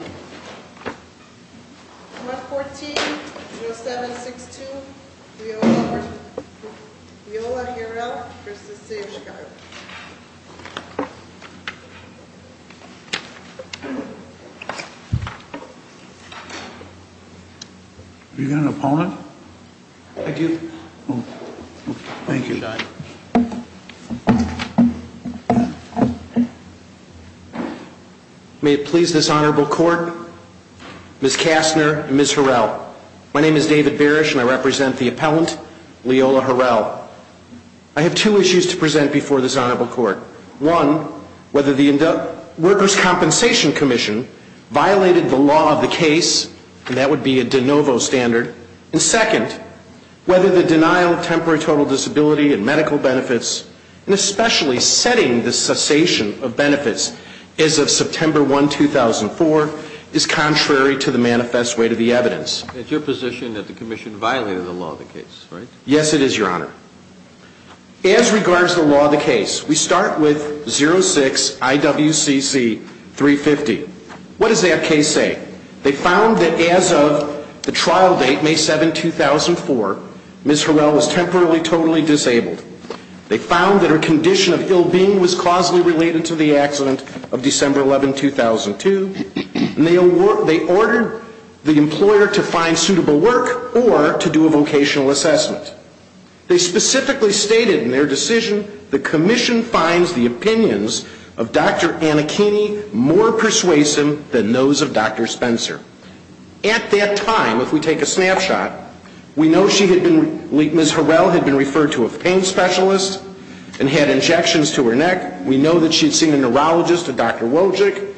114-0762, Viola Harrell v. Searschikov Have you got an opponent? I do. Thank you. May it please this Honorable Court, Ms. Kastner and Ms. Harrell. My name is David Barish and I represent the appellant, Viola Harrell. I have two issues to present before this Honorable Court. One, whether the Workers' Compensation Commission violated the law of the case, and that would be a de novo standard. And second, whether the denial of temporary total disability and medical benefits, and especially setting the cessation of benefits as of September 1, 2004, is contrary to the manifest way to the evidence. It's your position that the Commission violated the law of the case, right? Yes, it is, Your Honor. As regards to the law of the case, we start with 06-IWCC-350. What does that case say? They found that as of the trial date, May 7, 2004, Ms. Harrell was temporarily totally disabled. They found that her condition of ill-being was causally related to the accident of December 11, 2002, and they ordered the employer to find suitable work or to do a vocational assessment. They specifically stated in their decision, the Commission finds the opinions of Dr. Anakini more persuasive than those of Dr. Spencer. At that time, if we take a snapshot, we know Ms. Harrell had been referred to a pain specialist and had injections to her neck. We know that she had seen a neurologist, a Dr. Wojcik.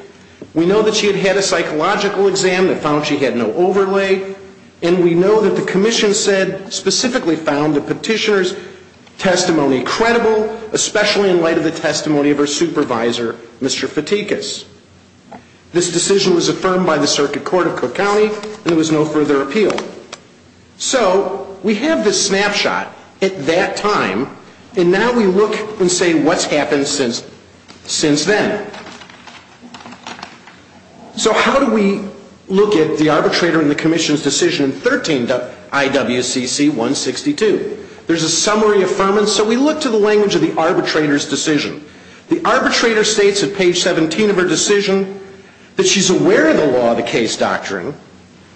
We know that she had had a psychological exam that found she had no overlay. And we know that the Commission said, specifically found the petitioner's testimony credible, especially in light of the testimony of her supervisor, Mr. Fatikas. This decision was affirmed by the Circuit Court of Cook County, and there was no further appeal. So we have this snapshot at that time, and now we look and say, what's happened since then? So how do we look at the arbitrator in the Commission's decision in 13 IWCC 162? There's a summary affirmance, so we look to the language of the arbitrator's decision. The arbitrator states at page 17 of her decision that she's aware of the law of the case doctrine,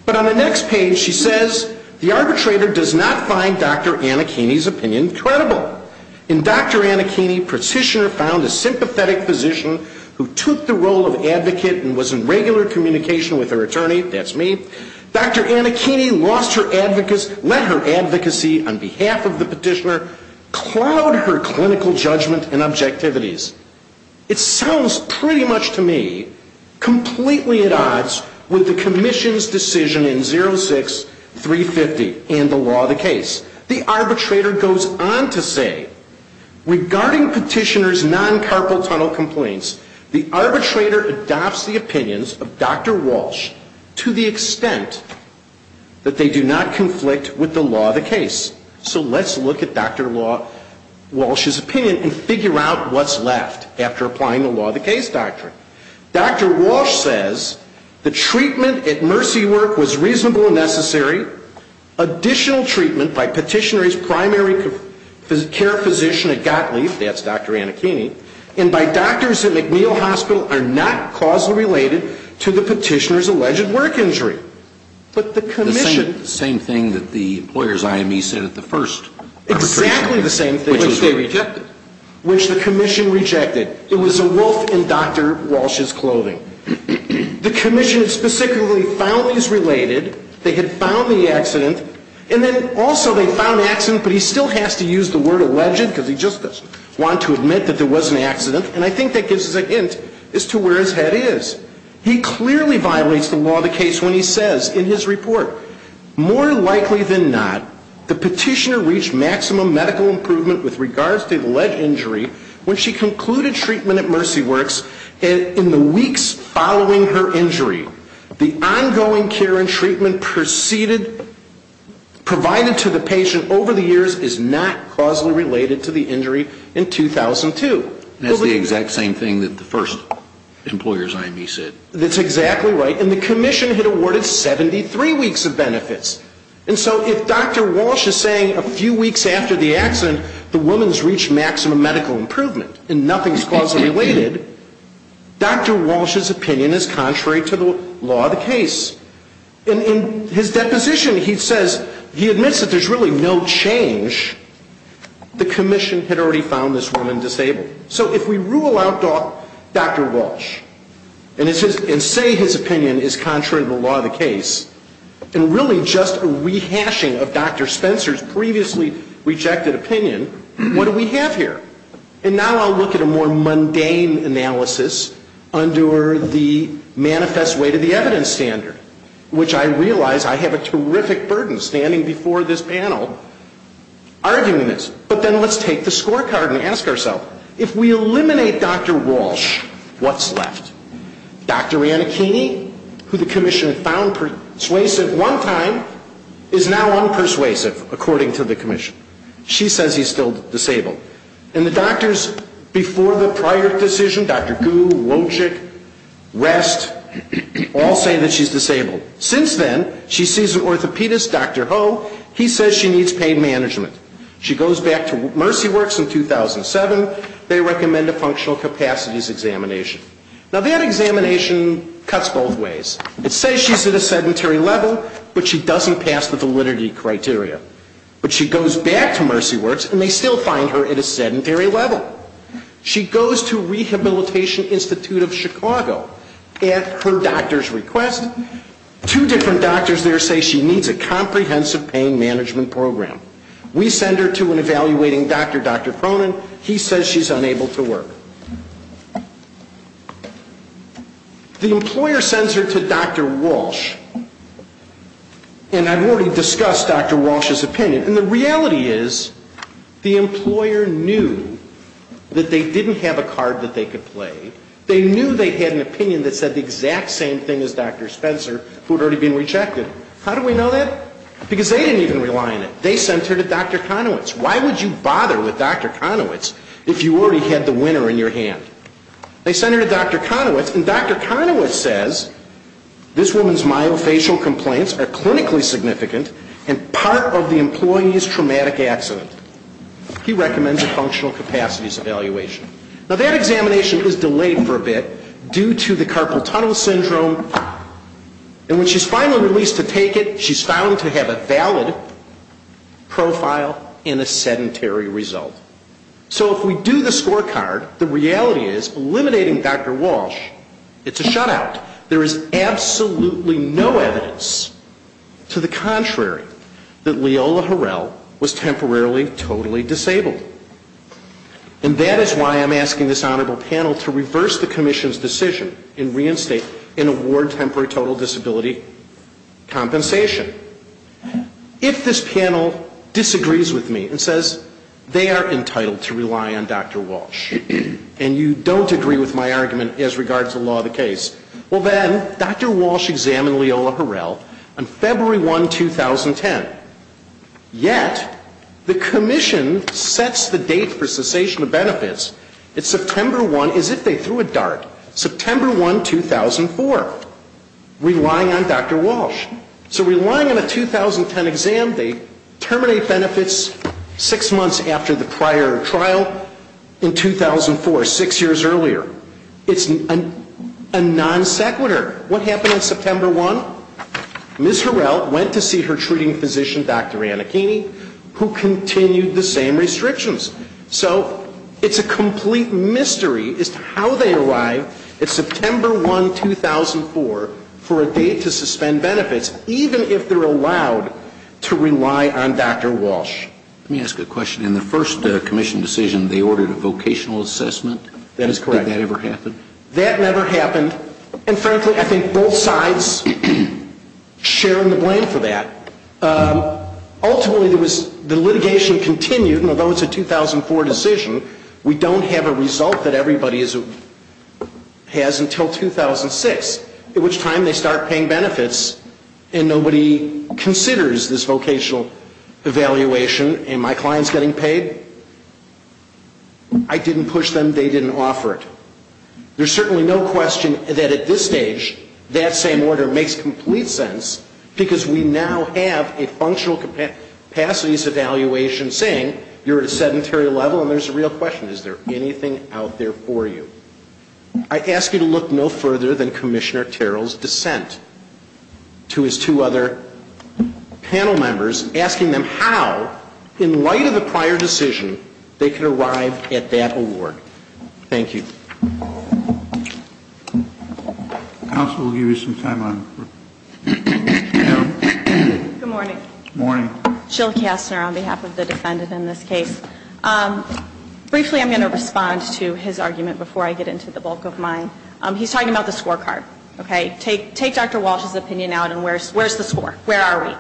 but on the next page, she says, the arbitrator does not find Dr. Anakini's opinion credible. In Dr. Anakini, petitioner found a sympathetic physician who took the role of advocate and was in regular communication with her attorney. That's me. Dr. Anakini lost her advocacy, let her advocacy on behalf of the petitioner cloud her clinical judgment and objectivities. It sounds pretty much to me completely at odds with the Commission's decision in 06 350 and the law of the case. The arbitrator goes on to say, regarding petitioner's non-carpal tunnel complaints, the arbitrator adopts the opinions of Dr. Walsh to the extent that they do not conflict with the law of the case. So let's look at Dr. Walsh's opinion and figure out what's left after applying the law of the case doctrine. Dr. Walsh says, the treatment at Mercy Work was reasonable and necessary. Additional treatment by petitioner's primary care physician at Gottlieb, that's Dr. Anakini, and by doctors at McNeil Hospital are not causally related to the petitioner's alleged work injury. But the Commission. The same thing that the employers IME said at the first arbitration. Exactly the same thing. Which they rejected. Which the Commission rejected. It was a wolf in Dr. Walsh's clothing. The Commission specifically found these related. They had found the accident. And then also they found the accident, but he still has to use the word alleged because he just doesn't want to admit that there was an accident. And I think that gives us a hint as to where his head is. He clearly violates the law of the case when he says in his report, more likely than not, the petitioner reached maximum medical improvement with regards to the alleged injury when she concluded treatment at Mercy Works in the weeks following her injury. The ongoing care and treatment provided to the patient over the years is not causally related to the injury in 2002. That's the exact same thing that the first employers IME said. That's exactly right. And so if Dr. Walsh is saying a few weeks after the accident the woman's reached maximum medical improvement and nothing's causally related, Dr. Walsh's opinion is contrary to the law of the case. And in his deposition he says, he admits that there's really no change. The Commission had already found this woman disabled. So if we rule out Dr. Walsh and say his opinion is contrary to the law of the case, and really just a rehashing of Dr. Spencer's previously rejected opinion, what do we have here? And now I'll look at a more mundane analysis under the manifest way to the evidence standard, which I realize I have a terrific burden standing before this panel arguing this. But then let's take the scorecard and ask ourselves, if we eliminate Dr. Walsh, what's left? Dr. Annakini, who the Commission had found persuasive one time, is now unpersuasive, according to the Commission. She says he's still disabled. And the doctors before the prior decision, Dr. Gu, Wojcik, Rest, all say that she's disabled. Since then, she sees an orthopedist, Dr. Ho, he says she needs pain management. She goes back to Mercy Works in 2007. They recommend a functional capacities examination. Now, that examination cuts both ways. It says she's at a sedentary level, but she doesn't pass the validity criteria. But she goes back to Mercy Works, and they still find her at a sedentary level. She goes to Rehabilitation Institute of Chicago at her doctor's request. Two different doctors there say she needs a comprehensive pain management program. We send her to an evaluating doctor, Dr. Cronin. He says she's unable to work. The employer sends her to Dr. Walsh. And I've already discussed Dr. Walsh's opinion. And the reality is the employer knew that they didn't have a card that they could play. They knew they had an opinion that said the exact same thing as Dr. Spencer, who had already been rejected. How do we know that? Because they didn't even rely on it. They sent her to Dr. Conowitz. Why would you bother with Dr. Conowitz if you already had the winner in your hand? They sent her to Dr. Conowitz, and Dr. Conowitz says this woman's myofascial complaints are clinically significant and part of the employee's traumatic accident. He recommends a functional capacities evaluation. Now, that examination is delayed for a bit due to the carpal tunnel syndrome. And when she's finally released to take it, she's found to have a valid profile and a sedentary result. So if we do the scorecard, the reality is eliminating Dr. Walsh, it's a shutout. There is absolutely no evidence to the contrary that Leola Harrell was temporarily totally disabled. And that is why I'm asking this honorable panel to reverse the commission's decision and reinstate and award temporary total disability compensation. If this panel disagrees with me and says they are entitled to rely on Dr. Walsh and you don't agree with my argument as regards to the law of the case, well, then Dr. Walsh examined Leola Harrell on February 1, 2010. Yet the commission sets the date for cessation of benefits. It's September 1, as if they threw a dart, September 1, 2004, relying on Dr. Walsh. So relying on a 2010 exam, they terminate benefits six months after the prior trial in 2004, six years earlier. It's a non sequitur. What happened on September 1? Ms. Harrell went to see her treating physician, Dr. Anakini, who continued the same restrictions. So it's a complete mystery as to how they arrive at September 1, 2004, for a date to suspend benefits, even if they're allowed to rely on Dr. Walsh. Let me ask a question. In the first commission decision, they ordered a vocational assessment. That is correct. Did that ever happen? That never happened. And frankly, I think both sides share in the blame for that. Ultimately, the litigation continued, and although it's a 2004 decision, we don't have a result that everybody has until 2006, at which time they start paying benefits, and nobody considers this vocational evaluation, and my client's getting paid. I didn't push them. They didn't offer it. There's certainly no question that at this stage, that same order makes complete sense, because we now have a functional capacities evaluation saying you're at a sedentary level, and there's a real question. Is there anything out there for you? I ask you to look no further than Commissioner Terrell's dissent to his two other panel members, asking them how, in light of the prior decision, they could arrive at that award. Thank you. Counsel will give you some time. Good morning. Good morning. Jill Kastner on behalf of the defendant in this case. Briefly, I'm going to respond to his argument before I get into the bulk of mine. He's talking about the scorecard, okay? Take Dr. Walsh's opinion out, and where's the score? Where are we?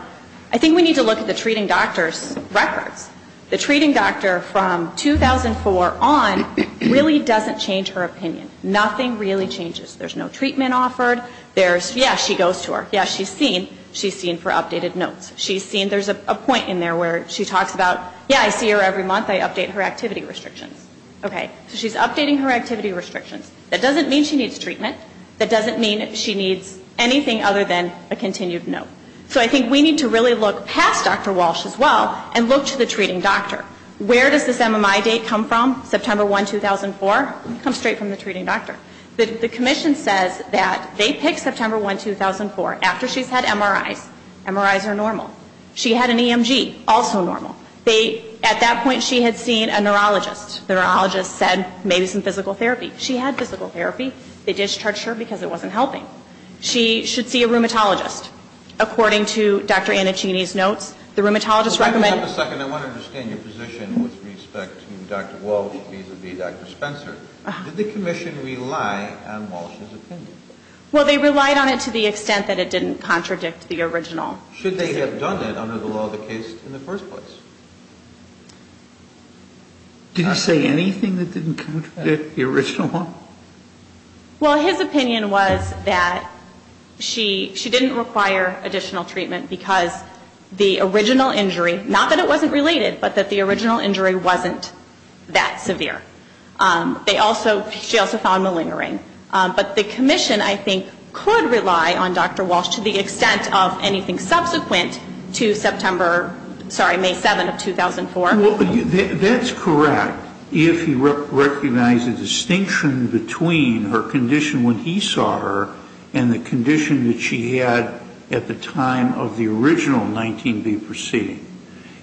I think we need to look at the treating doctor's records. The treating doctor from 2004 on really doesn't change her opinion. Nothing really changes. There's no treatment offered. There's, yeah, she goes to her. Yeah, she's seen. She's seen for updated notes. She's seen. There's a point in there where she talks about, yeah, I see her every month. I update her activity restrictions. Okay. So she's updating her activity restrictions. That doesn't mean she needs treatment. That doesn't mean she needs anything other than a continued note. So I think we need to really look past Dr. Walsh as well and look to the treating doctor. Where does this MMI date come from, September 1, 2004? It comes straight from the treating doctor. The commission says that they picked September 1, 2004 after she's had MRIs. MRIs are normal. She had an EMG, also normal. They, at that point, she had seen a neurologist. The neurologist said maybe some physical therapy. She had physical therapy. They discharged her because it wasn't helping. She should see a rheumatologist. According to Dr. Annachini's notes, the rheumatologist recommended. Wait a second. I want to understand your position with respect to Dr. Walsh vis-à-vis Dr. Spencer. Did the commission rely on Walsh's opinion? Well, they relied on it to the extent that it didn't contradict the original. Should they have done it under the law of the case in the first place? Did he say anything that didn't contradict the original? Well, his opinion was that she didn't require additional treatment because the original injury, not that it wasn't related, but that the original injury wasn't that severe. They also, she also found malingering. But the commission, I think, could rely on Dr. Walsh to the extent of anything subsequent to September, sorry, May 7 of 2004. Well, that's correct if he recognized the distinction between her condition when he saw her and the condition that she had at the time of the original 19B proceeding.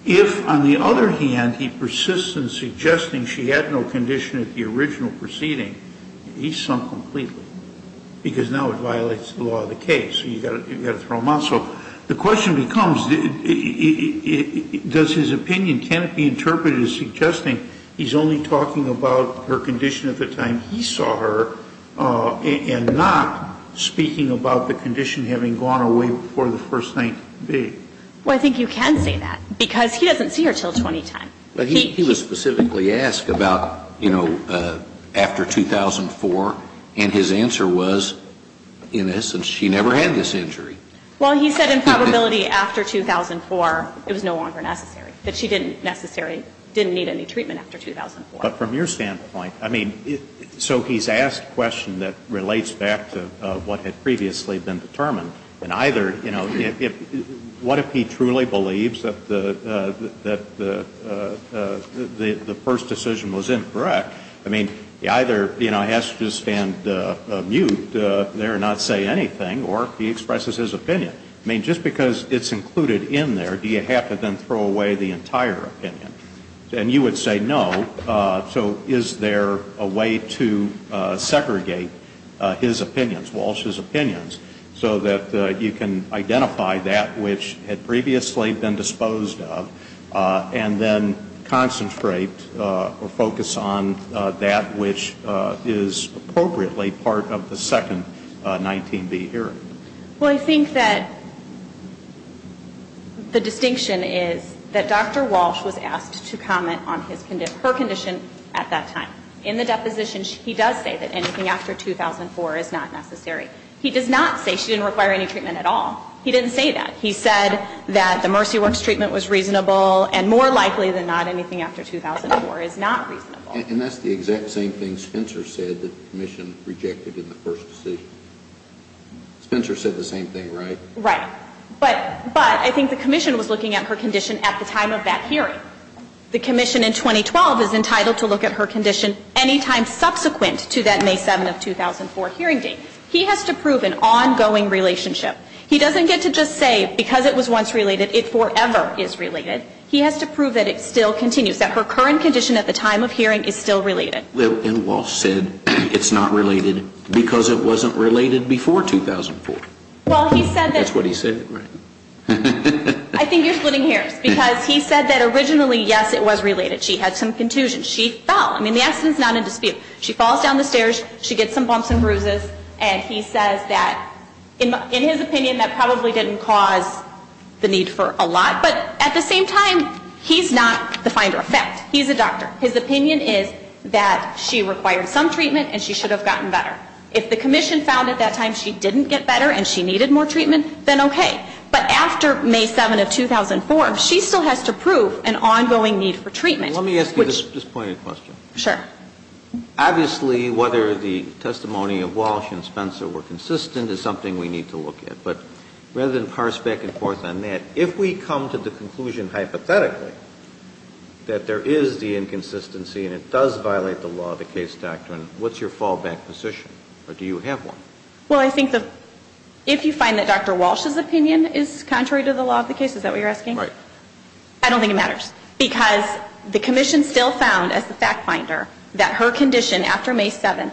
If, on the other hand, he persists in suggesting she had no condition at the original proceeding, he's sunk completely because now it violates the law of the case. You've got to throw him out. So the question becomes, does his opinion, can it be interpreted as suggesting he's only talking about her condition at the time he saw her and not speaking about the condition having gone away before the first 19B? Well, I think you can say that because he doesn't see her until 2010. But he was specifically asked about, you know, after 2004, and his answer was, in essence, she never had this injury. Well, he said in probability after 2004 it was no longer necessary, that she didn't necessarily didn't need any treatment after 2004. But from your standpoint, I mean, so he's asked a question that relates back to what had previously been determined, and either, you know, what if he truly believes that the first decision was incorrect? I mean, he either, you know, has to stand mute there and not say anything, or he expresses his opinion. I mean, just because it's included in there, do you have to then throw away the entire opinion? And you would say no. So is there a way to segregate his opinions, Walsh's opinions, so that you can identify that which had previously been disposed of and then concentrate or focus on that which is appropriately part of the second 19B hearing? Well, I think that the distinction is that Dr. Walsh was asked to comment on her condition at that time. In the deposition, he does say that anything after 2004 is not necessary. He does not say she didn't require any treatment at all. He didn't say that. He said that the Mercy Works treatment was reasonable, and more likely than not, anything after 2004 is not reasonable. And that's the exact same thing Spencer said that the Commission rejected in the first decision. Spencer said the same thing, right? Right. But I think the Commission was looking at her condition at the time of that hearing. The Commission in 2012 is entitled to look at her condition any time subsequent to that May 7 of 2004 hearing date. He has to prove an ongoing relationship. He doesn't get to just say because it was once related, it forever is related. He has to prove that it still continues, that her current condition at the time of hearing is still related. And Walsh said it's not related because it wasn't related before 2004. Well, he said that. That's what he said, right? I think you're splitting hairs, because he said that originally, yes, it was related. She had some contusions. She fell. I mean, the accident is not in dispute. She falls down the stairs. She gets some bumps and bruises. And he says that, in his opinion, that probably didn't cause the need for a lot. But at the same time, he's not the finder of fact. He's a doctor. His opinion is that she required some treatment and she should have gotten better. If the Commission found at that time she didn't get better and she needed more treatment, then okay. But after May 7 of 2004, she still has to prove an ongoing need for treatment. Let me ask you this pointed question. Sure. Obviously, whether the testimony of Walsh and Spencer were consistent is something we need to look at. But rather than parse back and forth on that, if we come to the conclusion hypothetically that there is the inconsistency and it does violate the law of the case doctrine, what's your fallback position? Or do you have one? Well, I think that if you find that Dr. Walsh's opinion is contrary to the law of the case, is that what you're asking? Right. I don't think it matters. Because the Commission still found as the fact finder that her condition after May 7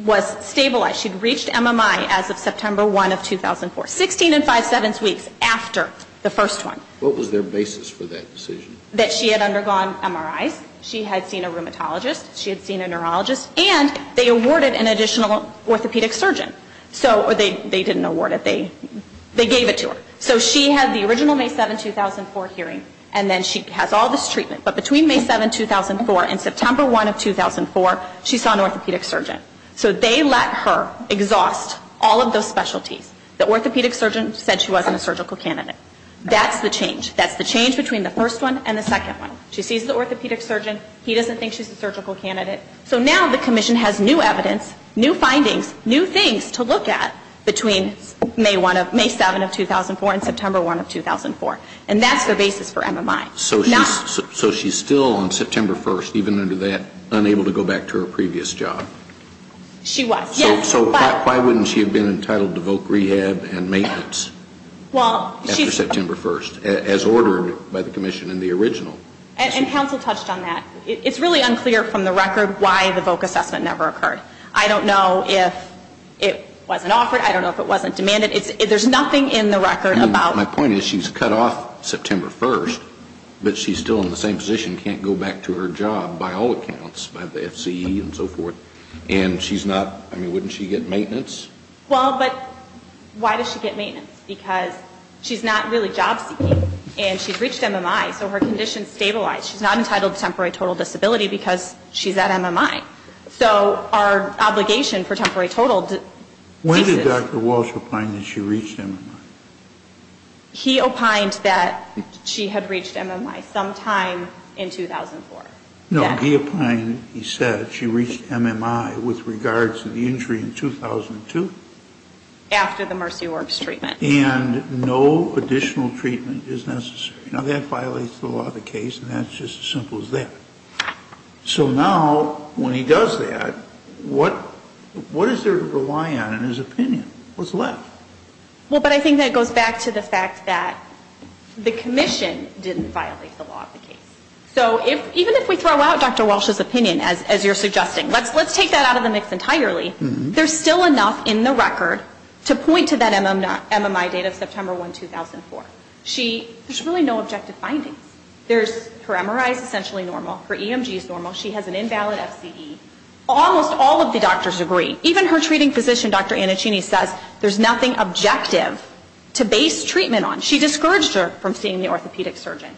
was stabilized. She'd reached MMI as of September 1 of 2004, 16 5 7 weeks after the first one. What was their basis for that decision? That she had undergone MRIs. She had seen a rheumatologist. She had seen a neurologist. And they awarded an additional orthopedic surgeon. They didn't award it. They gave it to her. So she had the original May 7, 2004 hearing. And then she has all this treatment. But between May 7, 2004 and September 1 of 2004, she saw an orthopedic surgeon. So they let her exhaust all of those specialties. The orthopedic surgeon said she wasn't a surgical candidate. That's the change. That's the change between the first one and the second one. She sees the orthopedic surgeon. He doesn't think she's a surgical candidate. So now the commission has new evidence, new findings, new things to look at between May 7 of 2004 and September 1 of 2004. And that's their basis for MMI. So she's still on September 1, even under that, unable to go back to her previous job? She was, yes. So why wouldn't she have been entitled to voc rehab and maintenance after September 1, as ordered by the commission in the original? And counsel touched on that. It's really unclear from the record why the voc assessment never occurred. I don't know if it wasn't offered. I don't know if it wasn't demanded. There's nothing in the record about it. My point is she's cut off September 1, but she's still in the same position, can't go back to her job by all accounts, by the FCE and so forth. And she's not, I mean, wouldn't she get maintenance? Well, but why does she get maintenance? Because she's not really job seeking. And she's reached MMI. So her condition is stabilized. She's not entitled to temporary total disability because she's at MMI. So our obligation for temporary total basis. When did Dr. Walsh opine that she reached MMI? He opined that she had reached MMI sometime in 2004. No, he opined, he said she reached MMI with regards to the injury in 2002. After the Mercy Works treatment. And no additional treatment is necessary. Now, that violates the law of the case, and that's just as simple as that. So now, when he does that, what is there to rely on in his opinion? What's left? Well, but I think that goes back to the fact that the commission didn't violate the law of the case. So even if we throw out Dr. Walsh's opinion, as you're suggesting, let's take that out of the mix entirely, there's still enough in the record to point to that MMI date of September 1, 2004. She, there's really no objective findings. There's, her MRI is essentially normal. Her EMG is normal. She has an invalid FCE. Almost all of the doctors agree. Even her treating physician, Dr. Annachini, says there's nothing objective to base treatment on. She discouraged her from seeing the orthopedic surgeon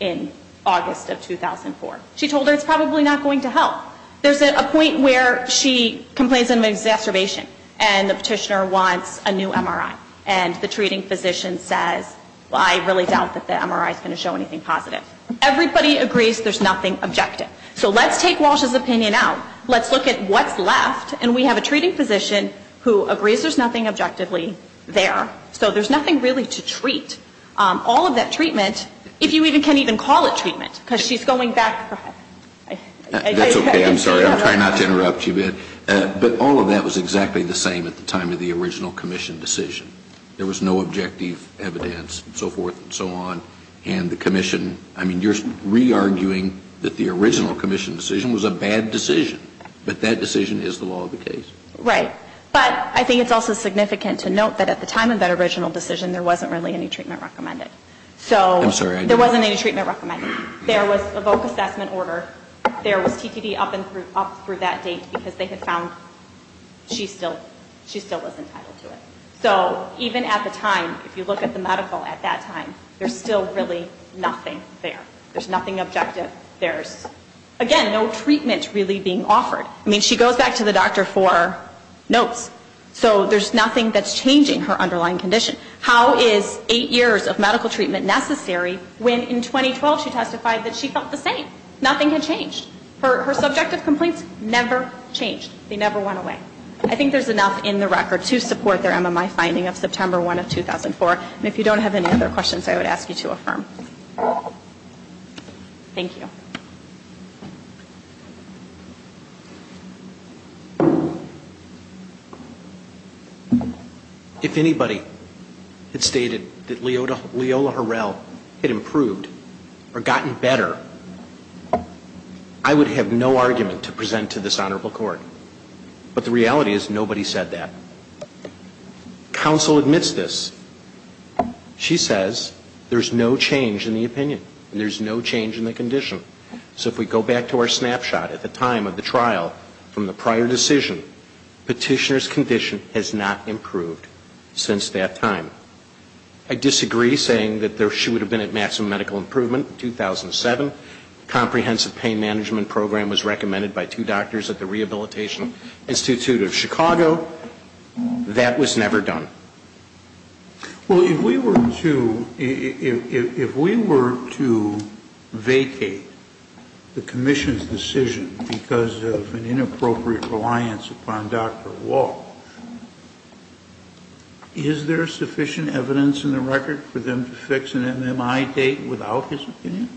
in August of 2004. She told her it's probably not going to help. There's a point where she complains of exacerbation, and the petitioner wants a new MRI. And the treating physician says, well, I really doubt that the MRI is going to show anything positive. Everybody agrees there's nothing objective. So let's take Walsh's opinion out. Let's look at what's left. And we have a treating physician who agrees there's nothing objectively there. So there's nothing really to treat. All of that treatment, if you even can even call it treatment, because she's going back. That's okay. I'm sorry. I'm trying not to interrupt you, but all of that was exactly the same at the time of the original commission decision. There was no objective evidence and so forth and so on. And the commission, I mean, you're re-arguing that the original commission decision was a bad decision. But that decision is the law of the case. Right. But I think it's also significant to note that at the time of that original decision, there wasn't really any treatment recommended. I'm sorry. There wasn't any treatment recommended. There was a VOC assessment order. There was TTD up through that date because they had found she still was entitled to it. So even at the time, if you look at the medical at that time, there's still really nothing there. There's nothing objective. There's, again, no treatment really being offered. I mean, she goes back to the doctor for notes. So there's nothing that's changing her underlying condition. How is eight years of medical treatment necessary when in 2012 she testified that she felt the same? Nothing had changed. Her subjective complaints never changed. They never went away. I think there's enough in the record to support their MMI finding of September 1 of 2004. And if you don't have any other questions, I would ask you to affirm. Thank you. If anybody had stated that Leola Harrell had improved or gotten better, I would have no argument to present to this honorable court. But the reality is nobody said that. Counsel admits this. She says there's no change in the opinion. There's no change in the condition. So if we go back to our snapshot at the time of the trial from the prior decision, Petitioner's condition has not improved since that time. I disagree, saying that she would have been at maximum medical improvement in 2007. Comprehensive pain management program was recommended by two doctors at the Rehabilitation Institute of Chicago. That was never done. Well, if we were to vacate the commission's decision because of an inappropriate reliance upon Dr. Walsh, is there sufficient evidence in the record for them to fix an MMI date without his opinion?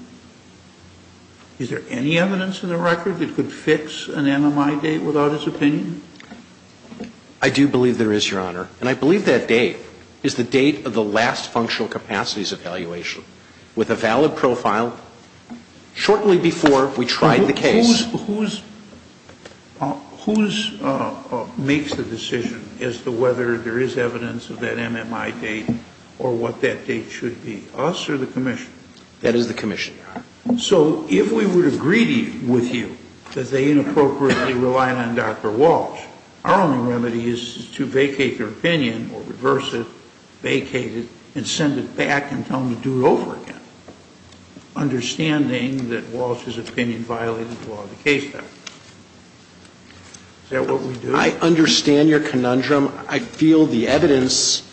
Is there any evidence in the record that could fix an MMI date without his opinion? I do believe there is, Your Honor. And I believe that date is the date of the last functional capacities evaluation with a valid profile shortly before we tried the case. Whose makes the decision as to whether there is evidence of that MMI date or what that date should be? Us or the commission? That is the commission, Your Honor. So if we were to agree with you that they inappropriately relied on Dr. Walsh, our only remedy is to vacate their opinion or reverse it, vacate it, and send it back and tell them to do it over again, understanding that Walsh's opinion violated the law of the case. Is that what we do? I understand your conundrum. I feel the evidence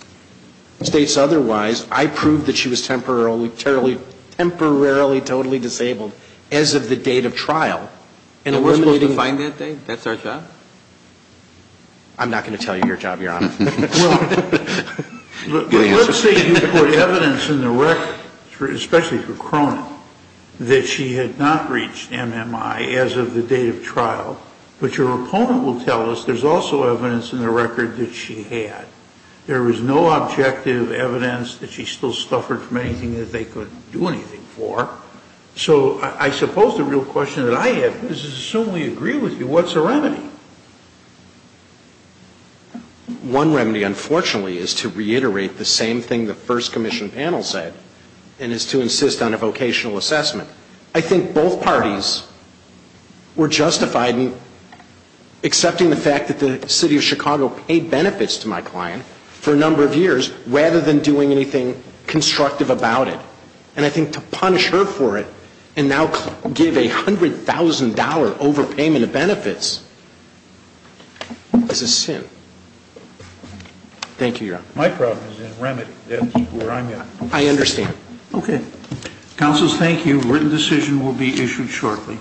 states otherwise. I proved that she was temporarily totally disabled as of the date of trial. And eliminating that. And we're supposed to find that date? That's our job? I'm not going to tell you your job, Your Honor. Well, let's say you put evidence in the record, especially for Cronin, that she had not reached MMI as of the date of trial, but your opponent will tell us there's also evidence in the record that she had. There was no objective evidence that she still suffered from anything that they could do anything for. So I suppose the real question that I have is, assuming we agree with you, what's the remedy? One remedy, unfortunately, is to reiterate the same thing the first commission panel said, and it's to insist on a vocational assessment. I think both parties were justified in accepting the fact that the City of Chicago paid benefits to my client for a number of years, rather than doing anything constructive about it. And I think to punish her for it and now give a $100,000 overpayment of benefits is a sin. Thank you, Your Honor. My problem is in remedy. That's where I'm at. I understand. Okay. Counsels, thank you. Written decision will be issued shortly.